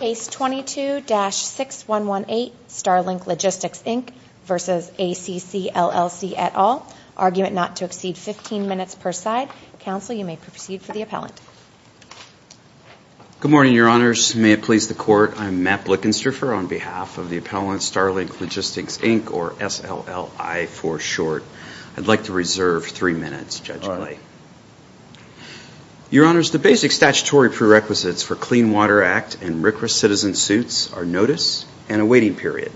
Case 22-6118, Starlink Logistics Inc v. ACC LLC et al., argument not to exceed 15 minutes per side. Counsel, you may proceed for the appellant. Good morning, Your Honors. May it please the Court, I'm Matt Blickenstrafer on behalf of the appellant, Starlink Logistics Inc, or S-L-L-I for short. I'd like to reserve three minutes, Judge Clay. Your Honors, the basic statutory prerequisites for Clean Water Act and RCRA citizen suits are notice and a waiting period.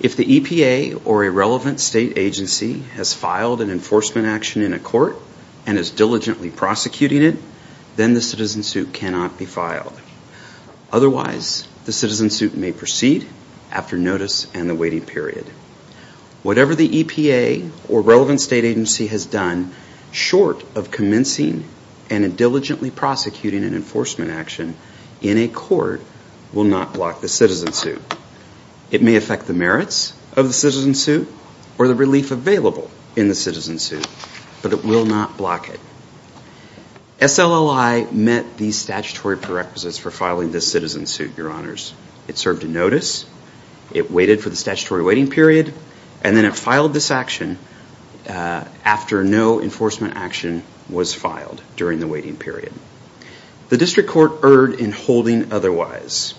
If the EPA or a relevant state agency has filed an enforcement action in a court and is diligently prosecuting it, then the citizen suit cannot be filed. Otherwise, the citizen suit may proceed after notice and the waiting period. Whatever the EPA or relevant state agency has done short of commencing and diligently prosecuting an enforcement action in a court will not block the citizen suit. It may affect the merits of the citizen suit or the relief available in the citizen suit, but it will not block it. S-L-L-I met these statutory prerequisites for filing this citizen suit, Your Honors. It served a notice, it waited for the statutory waiting period, and then it filed this action after no enforcement action was filed during the waiting period. The district court erred in holding otherwise.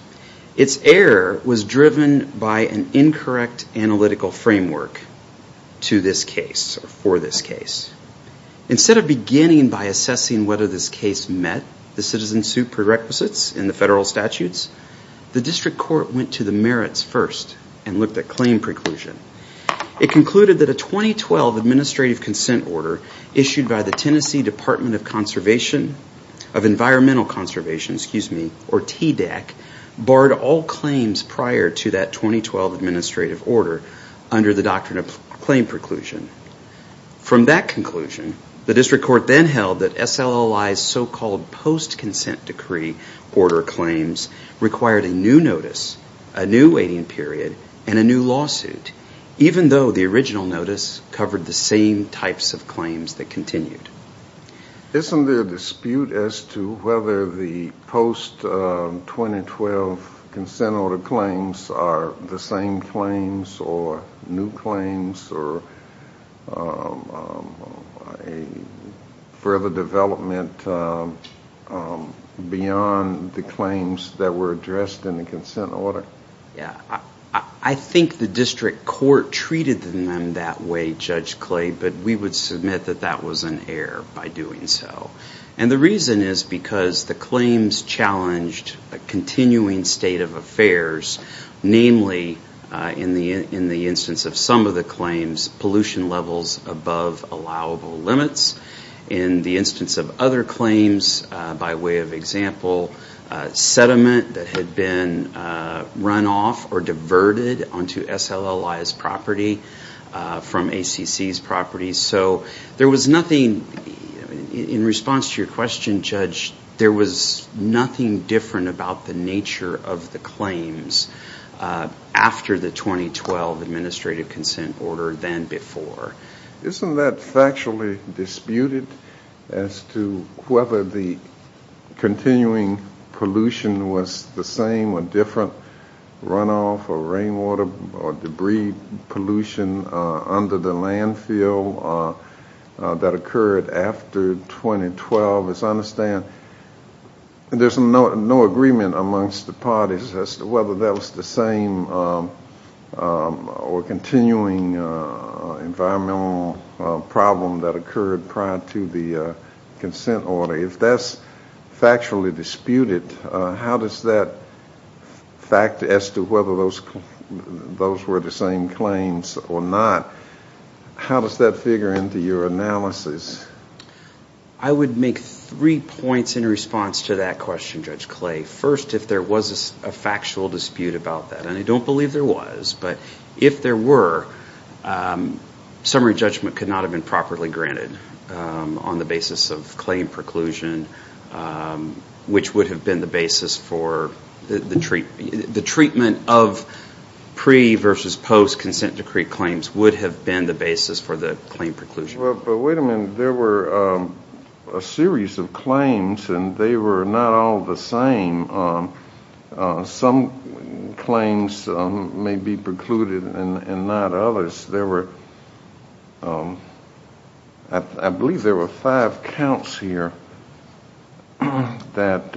Its error was driven by an incorrect analytical framework to this case or for this case. Instead of beginning by assessing whether this case met the citizen suit prerequisites in the federal statutes, the district court went to the merits first and looked at claim preclusion. It concluded that a 2012 administrative consent order issued by the Tennessee Department of Conservation, of Environmental Conservation, excuse me, or TDAC, barred all claims prior to that 2012 administrative order under the doctrine of claim preclusion. From that conclusion, the district court then held that S-L-L-I's so-called post-consent decree order claims required a new notice, a new waiting period, and a new lawsuit, even though the original notice covered the same types of claims that continued. Isn't there a dispute as to whether the post-2012 consent order claims are the same claims or new claims or a further development beyond the claims that were addressed in the consent order? I think the district court treated them that way, Judge Clay, but we would submit that that was an error by doing so. And the reason is because the claims challenged a continuing state of affairs, namely, in the instance of some of the claims, pollution levels above allowable limits. In the instance of other claims, by way of example, sediment that had been run off or diverted onto S-L-L-I's property from ACC's property. So there was nothing, in response to your question, Judge, there was nothing different about the nature of the claims after the 2012 administrative consent order than before. Isn't that factually disputed as to whether the continuing pollution was the same or different runoff or rainwater or debris pollution under the landfill that occurred after 2012? As I understand, there's no agreement amongst the parties as to whether that was the same or continuing environmental problem that occurred prior to the consent order. If that's factually disputed, how does that fact as to whether those were the same claims or not, how does that figure into your analysis? I would make three points in response to that question, Judge Clay. First, if there was a factual dispute about that, and I don't believe there was, but if there were, summary judgment could not have been properly granted on the basis of claim preclusion, which would have been the basis for the treatment of pre versus post consent decree claims would have been the basis for the claim preclusion. But wait a minute, there were a series of claims and they were not all the same. Some claims may be precluded and not others. I believe there were five counts here that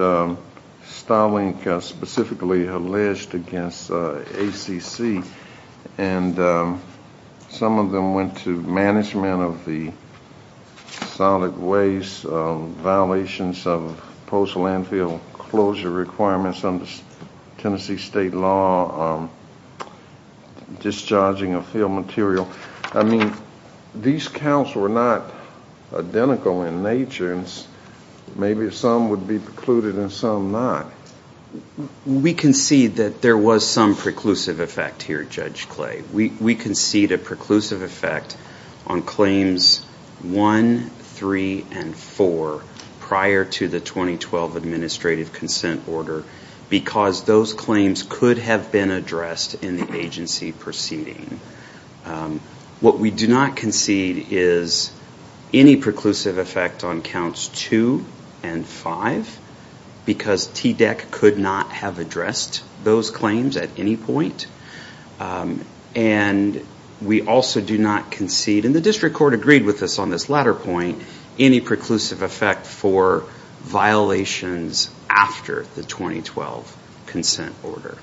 Starlink specifically alleged against ACC and some of them went to management of the solid waste, violations of postal landfill closure requirements under Tennessee state law, discharging of field material. I mean, these counts were not identical in nature and maybe some would be precluded and some not. We concede that there was some preclusive effect here, Judge Clay. We concede a preclusive effect on claims 1, 3, and 4 prior to the 2012 administrative consent order because those claims could have been addressed in the agency proceeding. What we do not concede is any preclusive effect on counts 2 and 5 because TDEC could not have addressed those claims at any point. And we also do not concede, and the district court agreed with us on this latter point, any preclusive effect for violations after the 2012 consent order.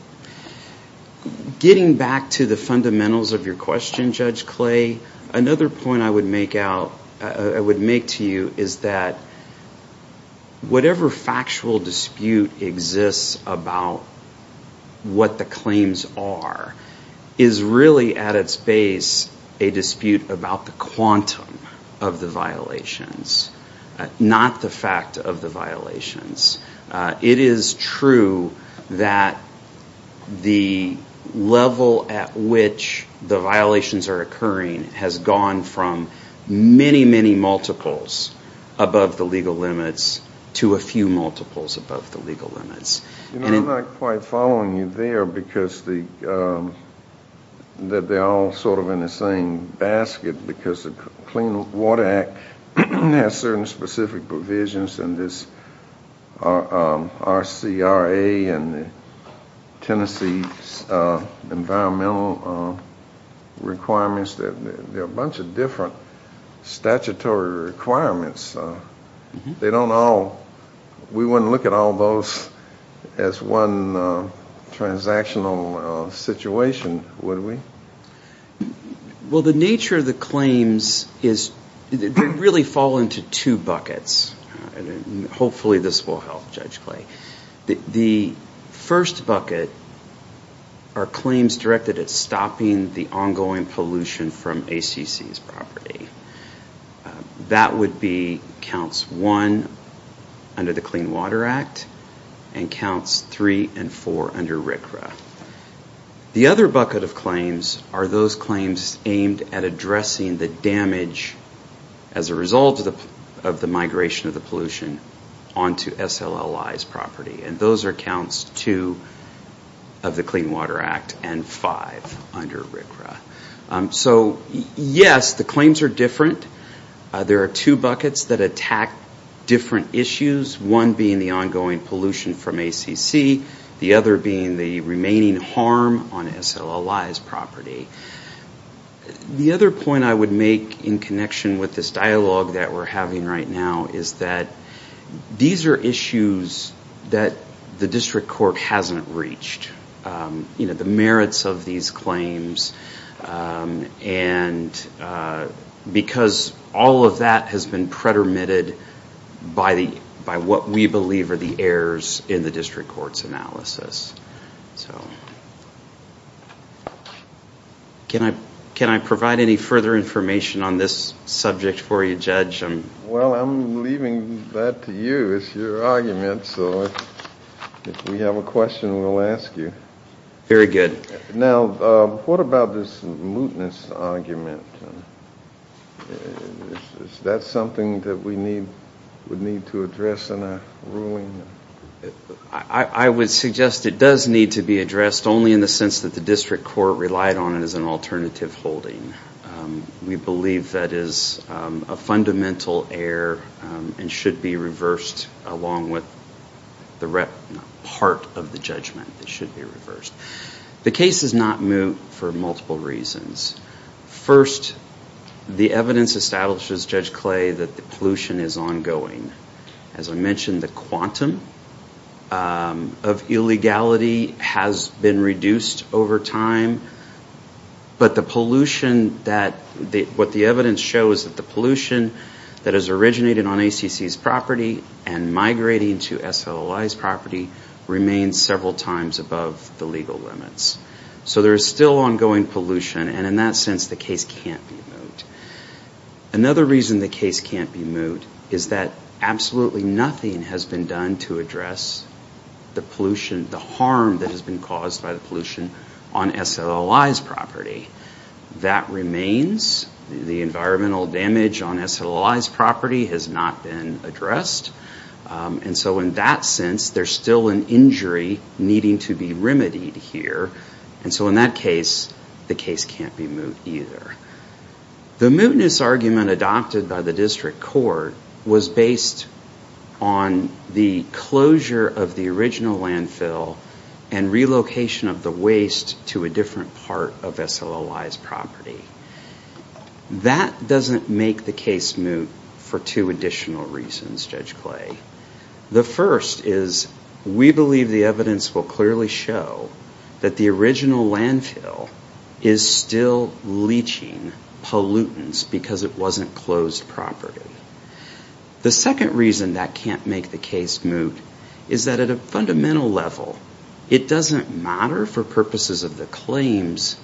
Getting back to the fundamentals of your question, Judge Clay, another point I would make to you is that whatever factual dispute exists about what the claims are is really at its base a dispute about the quantum of the violations, not the fact of the violations. It is true that the level at which the violations are occurring has gone from many, many multiples above the legal limits to a few multiples above the legal limits. You know, I'm not quite following you there because they're all sort of in the same basket because the Clean Water Act has certain specific provisions and this RCRA and Tennessee's environmental requirements, there are a bunch of different statutory requirements. They don't all, we wouldn't look at all those as one transactional situation, would we? Well, the nature of the claims is they really fall into two buckets. Hopefully this will help, Judge Clay. The first bucket are claims directed at stopping the ongoing pollution from ACC's property. That would be counts one under the Clean Water Act and counts three and four under RCRA. The other bucket of claims are those claims aimed at addressing the damage as a result of the migration of the pollution onto SLLI's property. And those are counts two of the Clean Water Act and five under RCRA. So, yes, the claims are different. There are two buckets that attack different issues, one being the ongoing pollution from ACC, the other being the remaining harm on SLLI's property. The other point I would make in connection with this dialogue that we're having right now is that these are issues that the district court hasn't reached. The merits of these claims and because all of that has been pretermitted by what we believe are the errors in the district court's analysis. Can I provide any further information on this subject for you, Judge? Well, I'm leaving that to you. It's your argument, so if we have a question, we'll ask you. Very good. Now, what about this mootness argument? Is that something that we would need to address in a ruling? I would suggest it does need to be addressed only in the sense that the district court relied on it as an alternative holding. We believe that is a fundamental error and should be reversed along with the part of the judgment that should be reversed. The case is not moot for multiple reasons. First, the evidence establishes, Judge Clay, that the pollution is ongoing. As I mentioned, the quantum of illegality has been reduced over time, but what the evidence shows is that the pollution that has originated on ACC's property and migrating to SLLI's property remains several times above the legal limits. So there is still ongoing pollution, and in that sense, the case can't be moot. Another reason the case can't be moot is that absolutely nothing has been done to address the pollution, the harm that has been caused by the pollution on SLLI's property. That remains. The environmental damage on SLLI's property has not been addressed. And so in that sense, there's still an injury needing to be remedied here. And so in that case, the case can't be moot either. The mootness argument adopted by the district court was based on the closure of the original landfill and relocation of the waste to a different part of SLLI's property. That doesn't make the case moot for two additional reasons, Judge Clay. The first is we believe the evidence will clearly show that the original landfill is still leaching pollutants because it wasn't closed property. The second reason that can't make the case moot is that at a fundamental level, it doesn't matter for purposes of the claims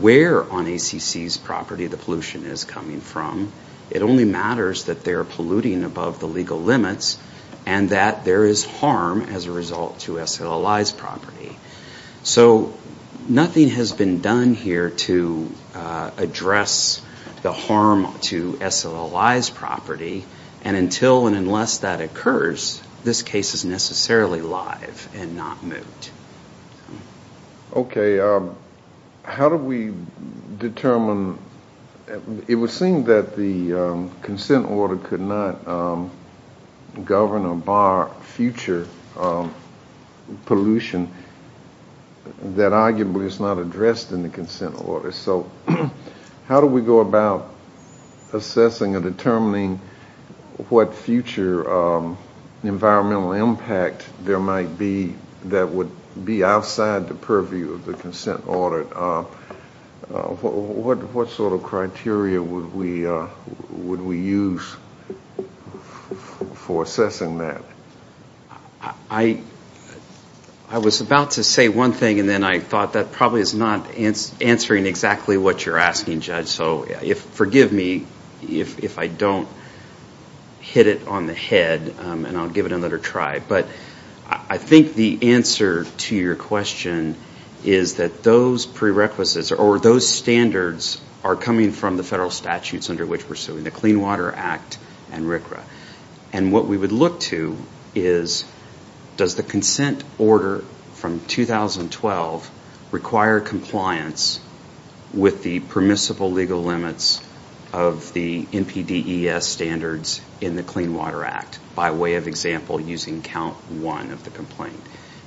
where on ACC's property the pollution is coming from. It only matters that they're polluting above the legal limits and that there is harm as a result to SLLI's property. So nothing has been done here to address the harm to SLLI's property. And until and unless that occurs, this case is necessarily live and not moot. Okay. How do we determine? It would seem that the consent order could not govern or bar future pollution that arguably is not addressed in the consent order. So how do we go about assessing and determining what future environmental impact there might be that would be outside the purview of the consent order? What sort of criteria would we use for assessing that? I was about to say one thing and then I thought that probably is not answering exactly what you're asking, Judge. So forgive me if I don't hit it on the head and I'll give it another try. But I think the answer to your question is that those prerequisites or those standards are coming from the federal statutes under which we're suing, the Clean Water Act and RCRA. And what we would look to is does the consent order from 2012 require compliance with the permissible legal limits of the NPDES standards in the Clean Water Act by way of example using Count 1 of the complaint?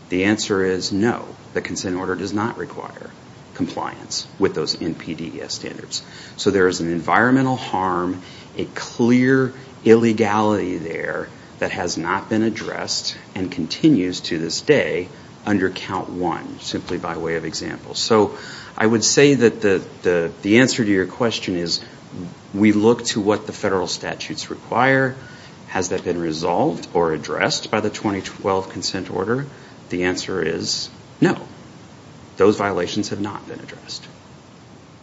The answer is no. The consent order does not require compliance with those NPDES standards. So there is an environmental harm, a clear illegality there that has not been addressed and continues to this day under Count 1 simply by way of example. So I would say that the answer to your question is we look to what the federal statutes require. Has that been resolved or addressed by the 2012 consent order? The answer is no. Those violations have not been addressed.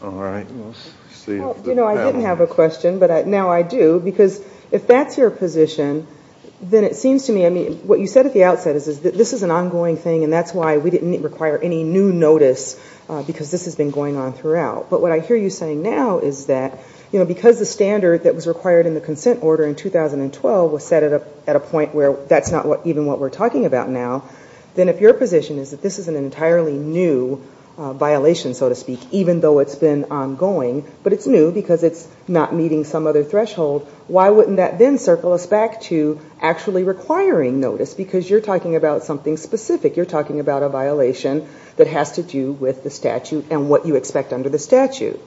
I didn't have a question, but now I do. Because if that's your position, then it seems to me, I mean, what you said at the outset is that this is an ongoing thing and that's why we didn't require any new notice because this has been going on throughout. But what I hear you saying now is that because the standard that was required in the consent order in 2012 was set at a point where that's not even what we're talking about now, then if your position is that this is an entirely new violation, so to speak, even though it's been ongoing, but it's new because it's not meeting some other threshold, why wouldn't that then circle us back to actually requiring notice because you're talking about something specific. You're talking about a violation that has to do with the statute and what you expect under the statute.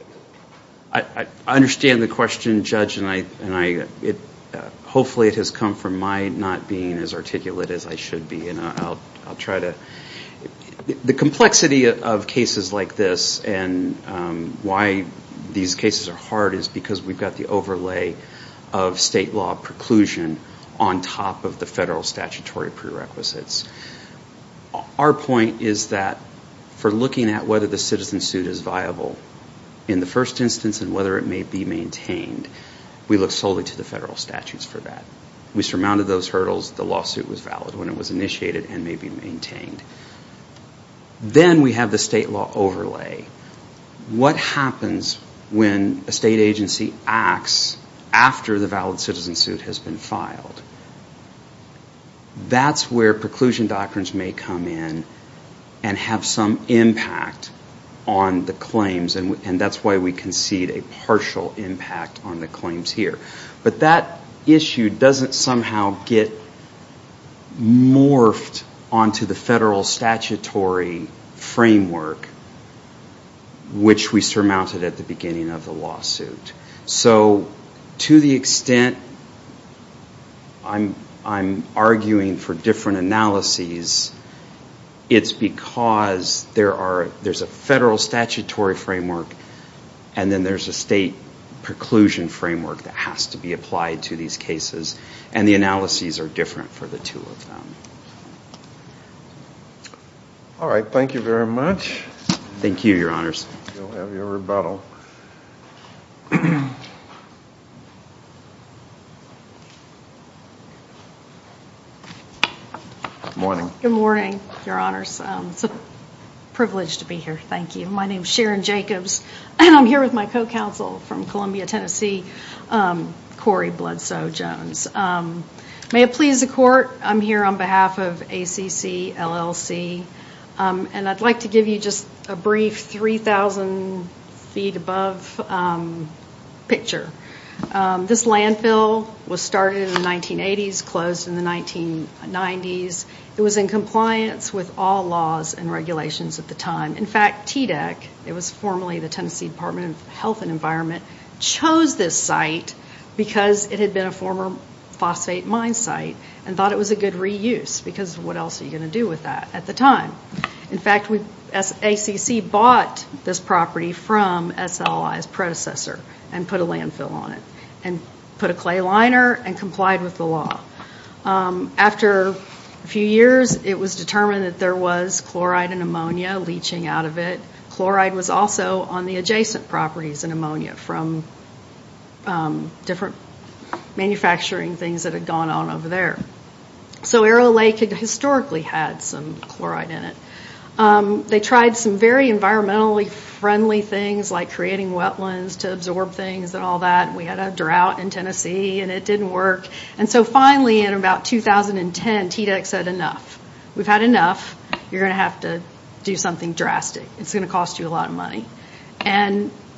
I understand the question, Judge, and hopefully it has come from my not being as articulate as I should be. The complexity of cases like this and why these cases are hard is because we've got the overlay of state law preclusion on top of the federal statutory prerequisites. Our point is that for looking at whether the citizen suit is viable in the first instance and whether it may be maintained, we look solely to the federal statutes for that. We surmounted those hurdles, the lawsuit was valid when it was initiated and may be maintained. Then we have the state law overlay. What happens when a state agency acts after the valid citizen suit has been filed? That's where preclusion doctrines may come in and have some impact on the claims, and that's why we concede a partial impact on the claims here. But that issue doesn't somehow get morphed onto the federal statutory framework, which we surmounted at the beginning of the lawsuit. So to the extent I'm arguing for different analyses, it's because there's a federal statutory framework and then there's a state preclusion framework that has to come in. And the analyses are different for the two of them. All right, thank you very much. Good morning, Your Honors. It's a privilege to be here. Thank you. My name is Sharon Jacobs, and I'm here with my co-counsel from Columbia, Tennessee, Corey Bloodsoe-Jones. May it please the Court, I'm here on behalf of ACC LLC, and I'd like to give you just a brief 3,000 feet above picture. This landfill was started in the 1980s, closed in the 1990s. It was in compliance with all laws and regulations at the time. In fact, TDEC, it was formerly the Tennessee Department of Health and Environment, chose this site because it had been a former phosphate mine site and thought it was a good reuse, because what else are you going to do with that at the time? In fact, ACC bought this property from SLI's predecessor and put a landfill on it and put a clay liner and complied with the law. After a few years, it was determined that there was chloride and ammonia leaching out of it. Chloride was also on the adjacent properties in ammonia from different manufacturing things that had gone on over there. So Arrow Lake had historically had some chloride in it. They tried some very environmentally friendly things like creating wetlands to absorb things and all that. We had a drought in Tennessee, and it didn't work. Finally, in about 2010, TDEC said, enough. We've had enough. You're going to have to do something drastic. It's going to cost you a lot of money.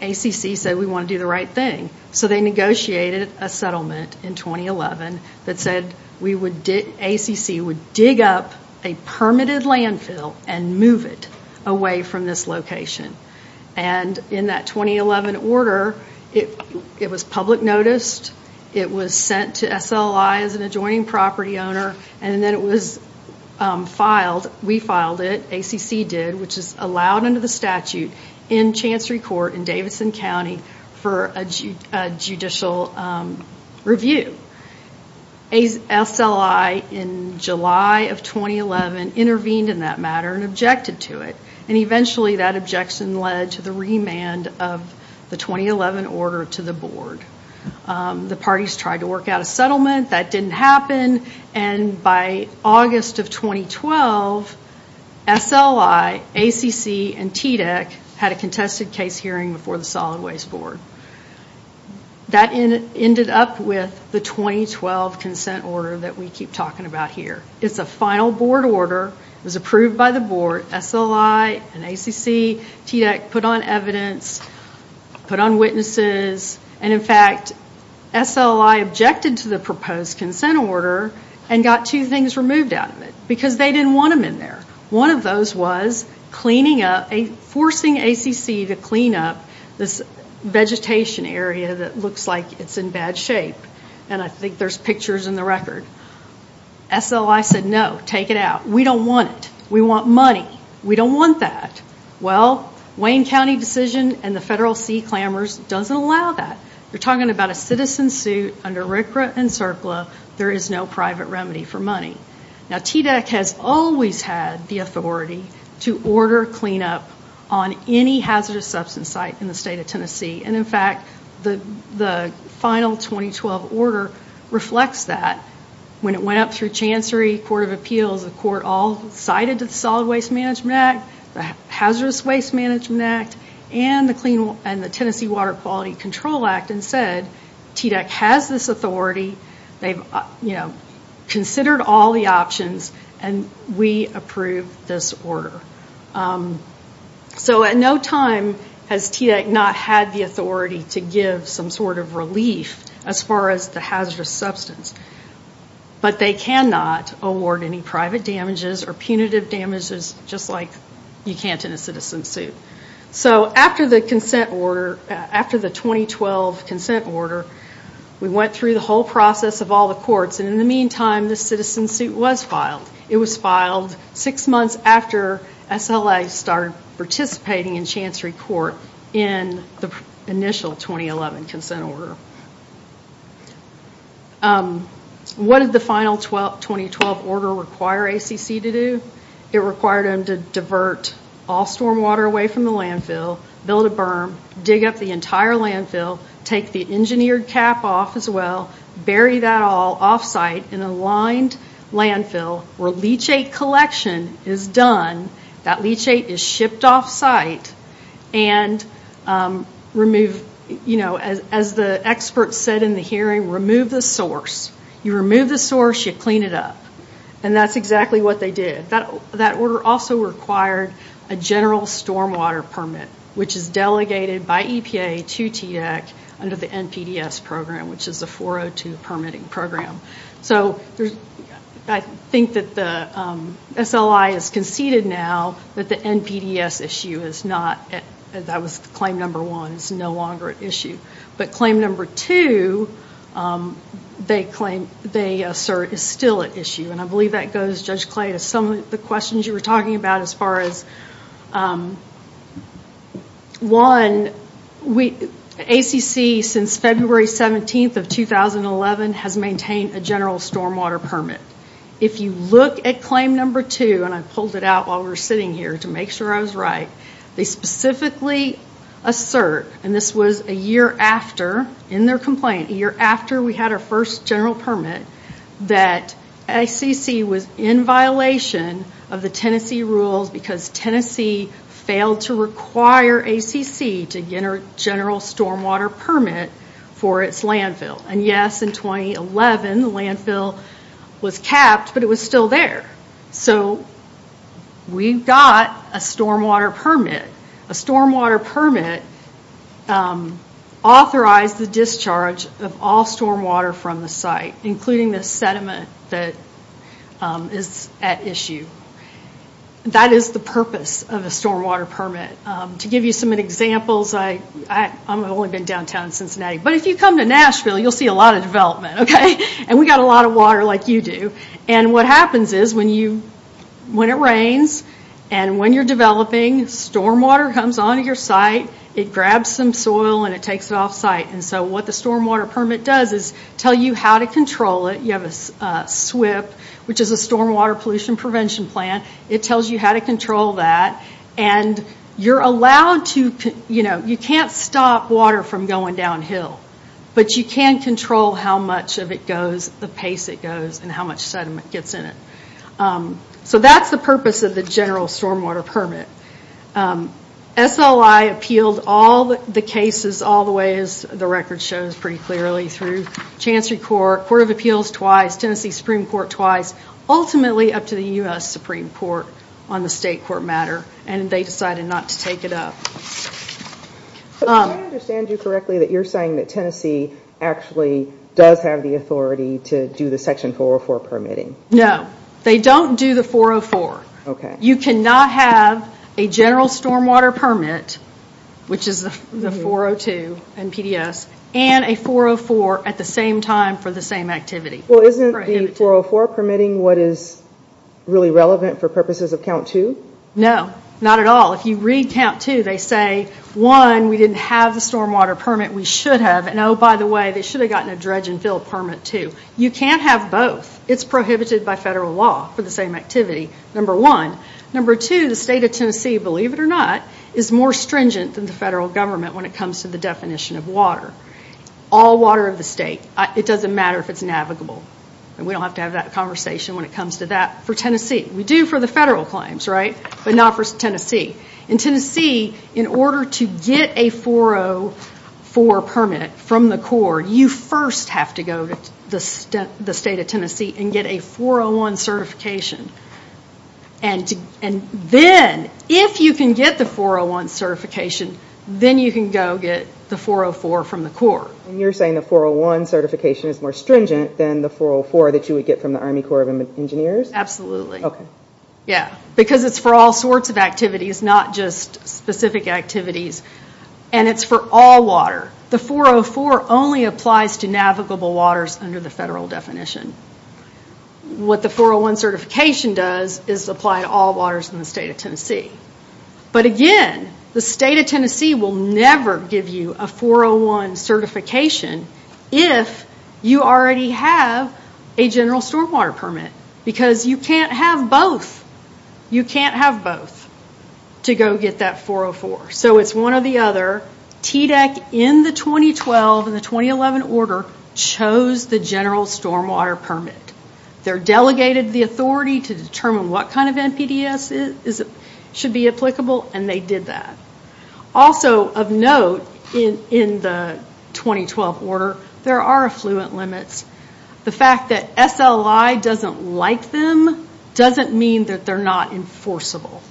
ACC said, we want to do the right thing. So they negotiated a settlement in 2011 that said ACC would dig up a permitted landfill and move it away from this location. In that 2011 order, it was public noticed. It was sent to SLI as an adjoining property owner. Then it was filed. We filed it. ACC did, which is allowed under the statute in Chancery Court in Davidson County for a judicial review. SLI, in July of 2011, intervened in that matter and objected to it. Eventually, that objection led to the remand of the 2011 order to the board. The parties tried to work out a settlement. That didn't happen. By August of 2012, SLI, ACC, and TDEC had a contested case hearing before the Solid Waste Board. That ended up with the 2012 consent order that we keep talking about here. It's a final board order. It was approved by the board. SLI and ACC and TDEC put on evidence, put on witnesses. In fact, SLI objected to the proposed consent order and got two things removed out of it because they didn't want them in there. One of those was forcing ACC to clean up this vegetation area that looks like it's in bad shape. I think there's pictures in the record. SLI said, no, take it out. We don't want it. We want money. We don't want that. Well, Wayne County decision and the federal sea clambers doesn't allow that. You're talking about a citizen suit under RCRA and CERCLA. There is no private remedy for money. TDEC has always had the authority to order cleanup on any hazardous substance site in the state of Tennessee. In fact, the final 2012 order reflects that. When it went up through Chancery Court of Appeals, the court all sided to the Solid Waste Management Act, the Hazardous Waste Management Act, and the Tennessee Water Quality Control Act and said, TDEC has this authority. They've considered all the options and we approve this order. At no time has TDEC not had the authority to give some sort of relief as far as the hazardous substance, but they cannot award any private damages or punitive damages just like you can't in a citizen suit. After the 2012 consent order, we went through the whole process of all the courts. In the meantime, the citizen suit was filed. It was filed six months after SLA started participating in Chancery Court in the initial 2011 consent order. What did the final 2012 order require ACC to do? It required them to divert all storm water away from the landfill, build a berm, dig up the entire landfill, take the engineered cap off as well, bury that all off-site in a lined landfill with no water. Where leachate collection is done, that leachate is shipped off-site and as the experts said in the hearing, remove the source. You remove the source, you clean it up. That's exactly what they did. That order also required a general storm water permit, which is delegated by EPA to TDEC under the NPDES program, which is the 402 permitting program. I think that the SLI has conceded now that the NPDES issue, that was claim number one, is no longer an issue. But claim number two, they assert is still an issue. I believe that goes, Judge Clay, to some of the questions you were talking about as far as, one, ACC since February 17th of 2011 has maintained a general storm water permit. If you look at claim number two, and I pulled it out while we were sitting here to make sure I was right, they specifically assert, and this was a year after, in their complaint, a year after we had our first general permit, that ACC was in violation of the Tennessee rules because Tennessee failed to require ACC to get a general storm water permit for its landfill. And yes, in 2011, they did. In 2011, the landfill was capped, but it was still there. We got a storm water permit. A storm water permit authorized the discharge of all storm water from the site, including the sediment that is at issue. That is the purpose of a storm water permit. To give you some examples, I've only been downtown in Tennessee, and we've got a lot of water like you do. What happens is, when it rains and when you're developing, storm water comes onto your site, it grabs some soil, and it takes it off site. What the storm water permit does is tell you how to control it. You have a SWIP, which is a storm water pollution prevention plan. It tells you how to control that. You can't stop water from going downhill, but you can control how much of it goes. The pace it goes, and how much sediment gets in it. That's the purpose of the general storm water permit. SLI appealed all the cases all the way, as the record shows pretty clearly, through Chancery Court, Court of Appeals twice, Tennessee Supreme Court twice, ultimately up to the U.S. Supreme Court on the state court matter, and they decided not to take it up. Can I understand you correctly that you're saying that Tennessee actually does have the authority to do the section 404 permitting? No. They don't do the 404. You cannot have a general storm water permit, which is the 402 and PDS, and a 404 at the same time for the same activity. Isn't the 404 permitting what is really relevant for purposes of count two? No. Not at all. If you read count two, they say, one, we didn't have the storm water permit. We should have, and oh, by the way, they should have gotten a dredge and fill permit, too. You can't have both. It's prohibited by federal law for the same activity, number one. Number two, the state of Tennessee, believe it or not, is more stringent than the federal government when it comes to the definition of water. All water of the state. It doesn't matter if it's navigable. We don't have to have that conversation when it comes to that for Tennessee. We do for the federal claims, but not for Tennessee. In Tennessee, in order to get a 404 permit from the Corps, you first have to go to the state of Tennessee and get a 401 certification. Then, if you can get the 401 certification, then you can go get the 404 from the Corps. You're saying the 401 certification is more stringent than the 404 that you would get from the Army Corps of Engineers? Absolutely. Okay. Yeah, because it's for all sorts of activities, not just specific activities. It's for all water. The 404 only applies to navigable waters under the federal definition. What the 401 certification does is apply to all waters in the state of Tennessee. Again, the state of Tennessee will never give you a 401 certification if you already have a general stormwater permit, because you can't have both. You can't have both to go get that 404. It's one or the other. TDEC, in the 2012 and the 2011 order, chose the general stormwater permit. They're delegated the authority to determine what kind of NPDES should be applicable, and they did that. Of note, in the 2012 order, there are affluent limits. The fact that SLI doesn't like them doesn't mean that they're not enforceable.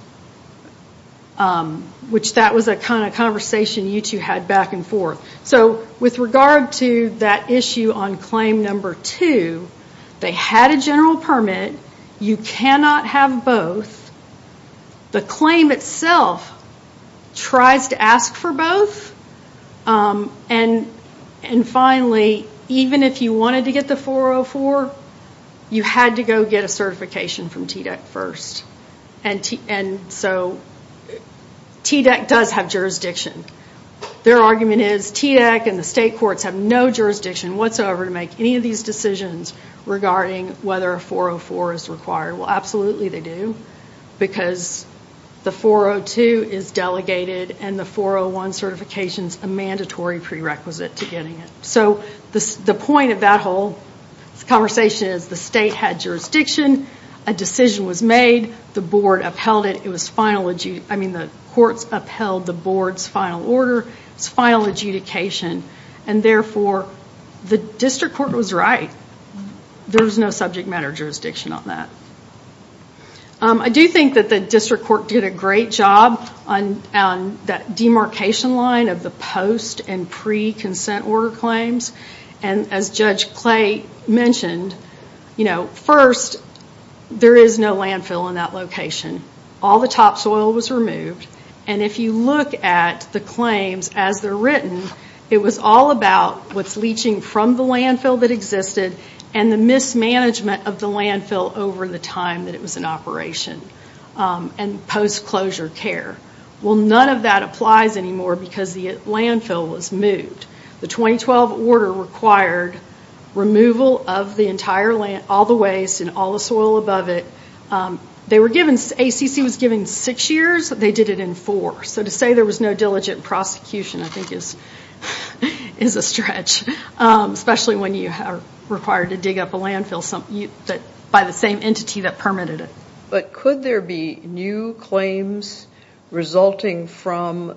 That was a conversation you two had back and forth. With regard to that issue on claim number two, they had a general permit. You cannot have both. The claim itself tries to ask for both. Finally, even if you wanted to get the 404, you had to go get a certification from TDEC first. TDEC does have jurisdiction. Their argument is TDEC and the state courts have no jurisdiction whatsoever to make any decisions regarding whether a 404 is required. Absolutely, they do, because the 402 is delegated and the 401 certification is a mandatory prerequisite to getting it. The point of that whole conversation is the state had jurisdiction. A decision was made. The courts upheld the board's final order. It was final adjudication. Therefore, the district court was right. There's no subject matter jurisdiction on that. I do think that the district court did a great job on that demarcation line of the post and pre-consent order claims. As Judge Clay mentioned, first, there is no landfill in that location. All the topsoil was removed. If you look at the claims as they're written, it was all about what's leaching from the landfill that existed and the mismanagement of the landfill over the time that it was in operation and post-closure care. None of that applies anymore because the landfill was moved. The 2012 order required removal of all the waste and all the soil above it. ACC was given six years. They did it in four. To say there was no diligent prosecution is a stretch, especially when you are required to dig up a landfill by the same entity that permitted it. Could there be new claims resulting from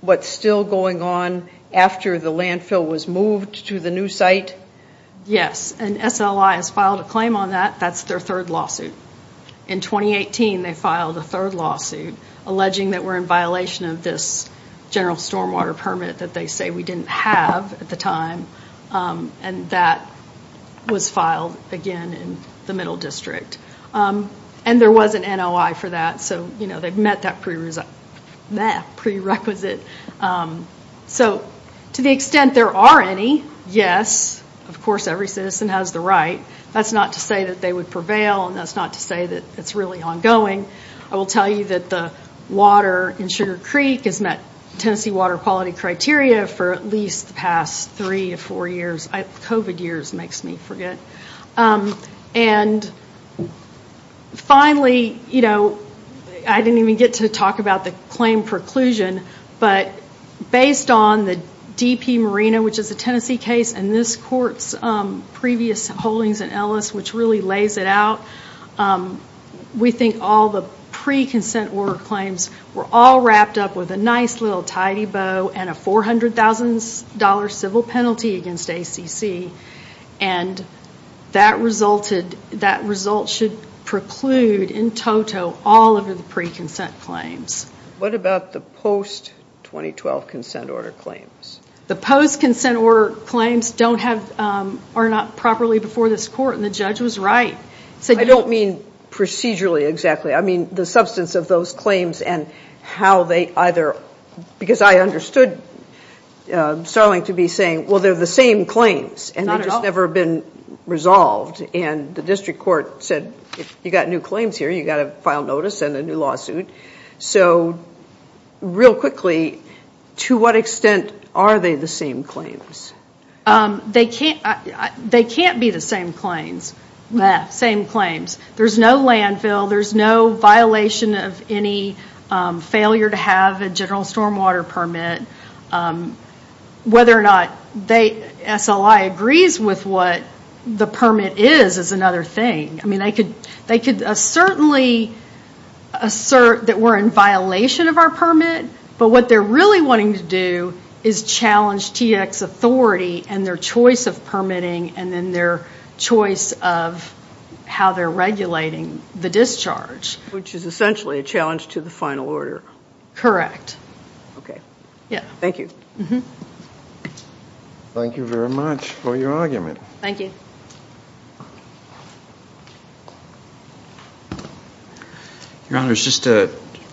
what's still going on after the landfill was moved to the new site? Yes. SLI has filed a claim on that. That's their third lawsuit. In 2018, they filed a third violation of this general stormwater permit that they say we didn't have at the time. That was filed, again, in the Middle District. There was an NOI for that, so they've met that prerequisite. To the extent there are any, yes. Of course, every citizen has the right. That's not to say that they would prevail and that's not to say that it's really ongoing. I will tell you that the water in Sugar Creek has met Tennessee water quality criteria for at least the past three or four years. COVID years makes me forget. Finally, I didn't even get to talk about the claim preclusion, but based on the DP Marina, which is a Tennessee case, and this court's previous holdings in Ellis, which really lays it out, we think all the pre-consent order claims were all wrapped up with a nice little tidy bow and a $400,000 civil penalty against ACC. That result should preclude, in toto, all of the pre-consent claims. What about the post-2012 consent order claims? The post-consent order claims are not properly before this court, and the judge was right. I don't mean procedurally, exactly. I mean the substance of those claims and how they either, because I understood Starling to be saying, well, they're the same claims and they've just never been resolved. The district court said, if you've got new claims here, you've got to file notice and a new lawsuit. Real quickly, to what extent are they the same claims? They can't be the same claims. There's no landfill. There's no violation of any failure to have a general stormwater permit. Whether or not SLI agrees with what the permit is, is another thing. They could certainly assert that we're in violation of our permit, but what they're really wanting to do is challenge TX authority and their choice of permitting and then their choice of how they're regulating the discharge. Which is essentially a challenge to the final order. Correct. Thank you. Thank you very much for your argument. Thank you. Your Honor, just a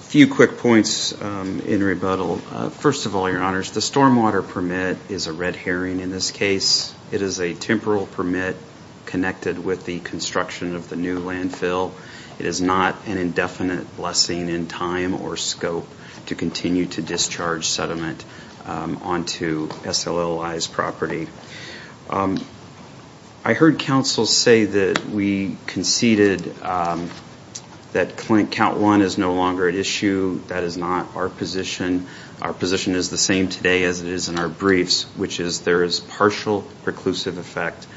few quick points in rebuttal. First of all, Your Honor, the stormwater permit is a red herring in this case. It is a temporal permit connected with the construction of the new landfill. It is not an indefinite blessing in time or scope to continue to discharge I heard counsel say that we conceded that count one is no longer at issue. That is not our position. Our position is the same today as it is in our briefs, which is there is partial preclusive effect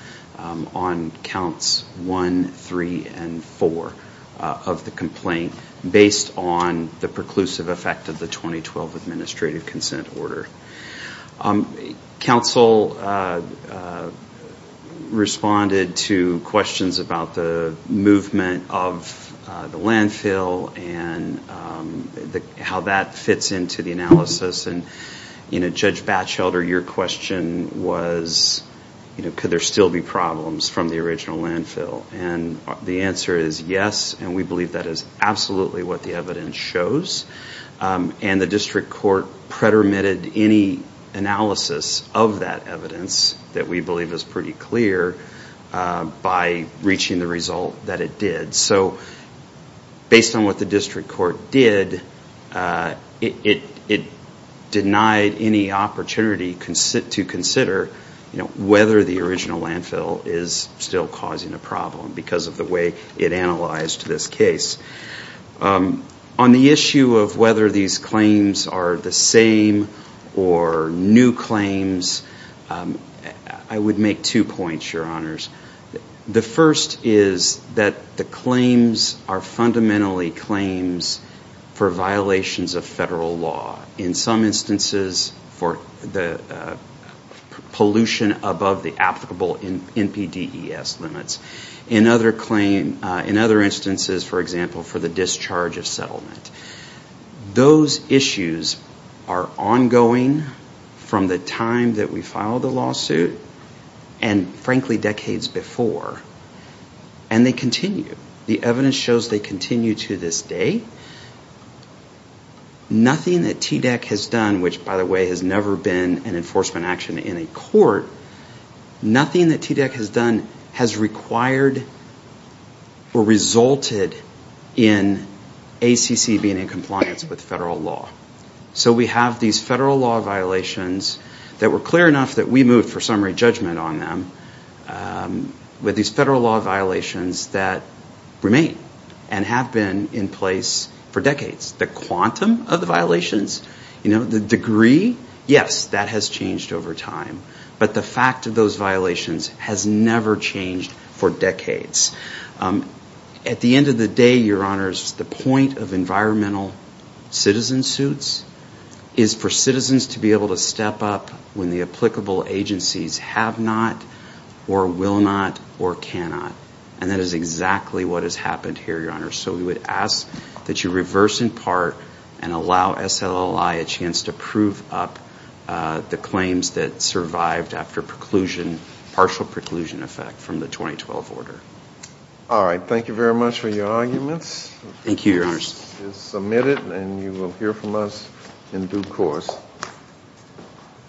on counts one, three, and four of the complaint, based on the responded to questions about the movement of the landfill and how that fits into the analysis. Judge Batchelder, your question was, could there still be problems from the original landfill? The answer is yes, and we believe that is absolutely what the evidence shows. The district court predominated any analysis of that evidence that we believe is pretty clear by reaching the result that it did. Based on what the district court did, it denied any opportunity to consider whether the original landfill is still causing a problem because of the way it analyzed this case. On the issue of whether these claims are the same or new claims, I would make two points, your honors. The first is that the claims are fundamentally claims for violations of federal law. In some instances, for the pollution above the applicable NPDES limits. In other instances, for example, for the discharge of settlement. Those issues are ongoing from the time that we filed the lawsuit and frankly decades before, and they continue. The evidence shows they continue to this day. Nothing that TDEC has done, which by the way has never been an enforcement action in a court, nothing that TDEC has done has required or resulted in ACC being in compliance with federal law. So we have these federal law violations that were clear enough that we moved for summary judgment on them with these federal law violations that remain and have been in place for decades. The quantum of the changed for decades. At the end of the day, your honors, the point of environmental citizen suits is for citizens to be able to step up when the applicable agencies have not or will not or cannot. And that is exactly what has happened here, your honors. So we would ask that you reverse in part and allow SLLI a chance to prove up the claims that survived after partial preclusion effect from the 2012 order. All right. Thank you very much for your arguments. Thank you, your honors. This is submitted and you will hear from us in due course.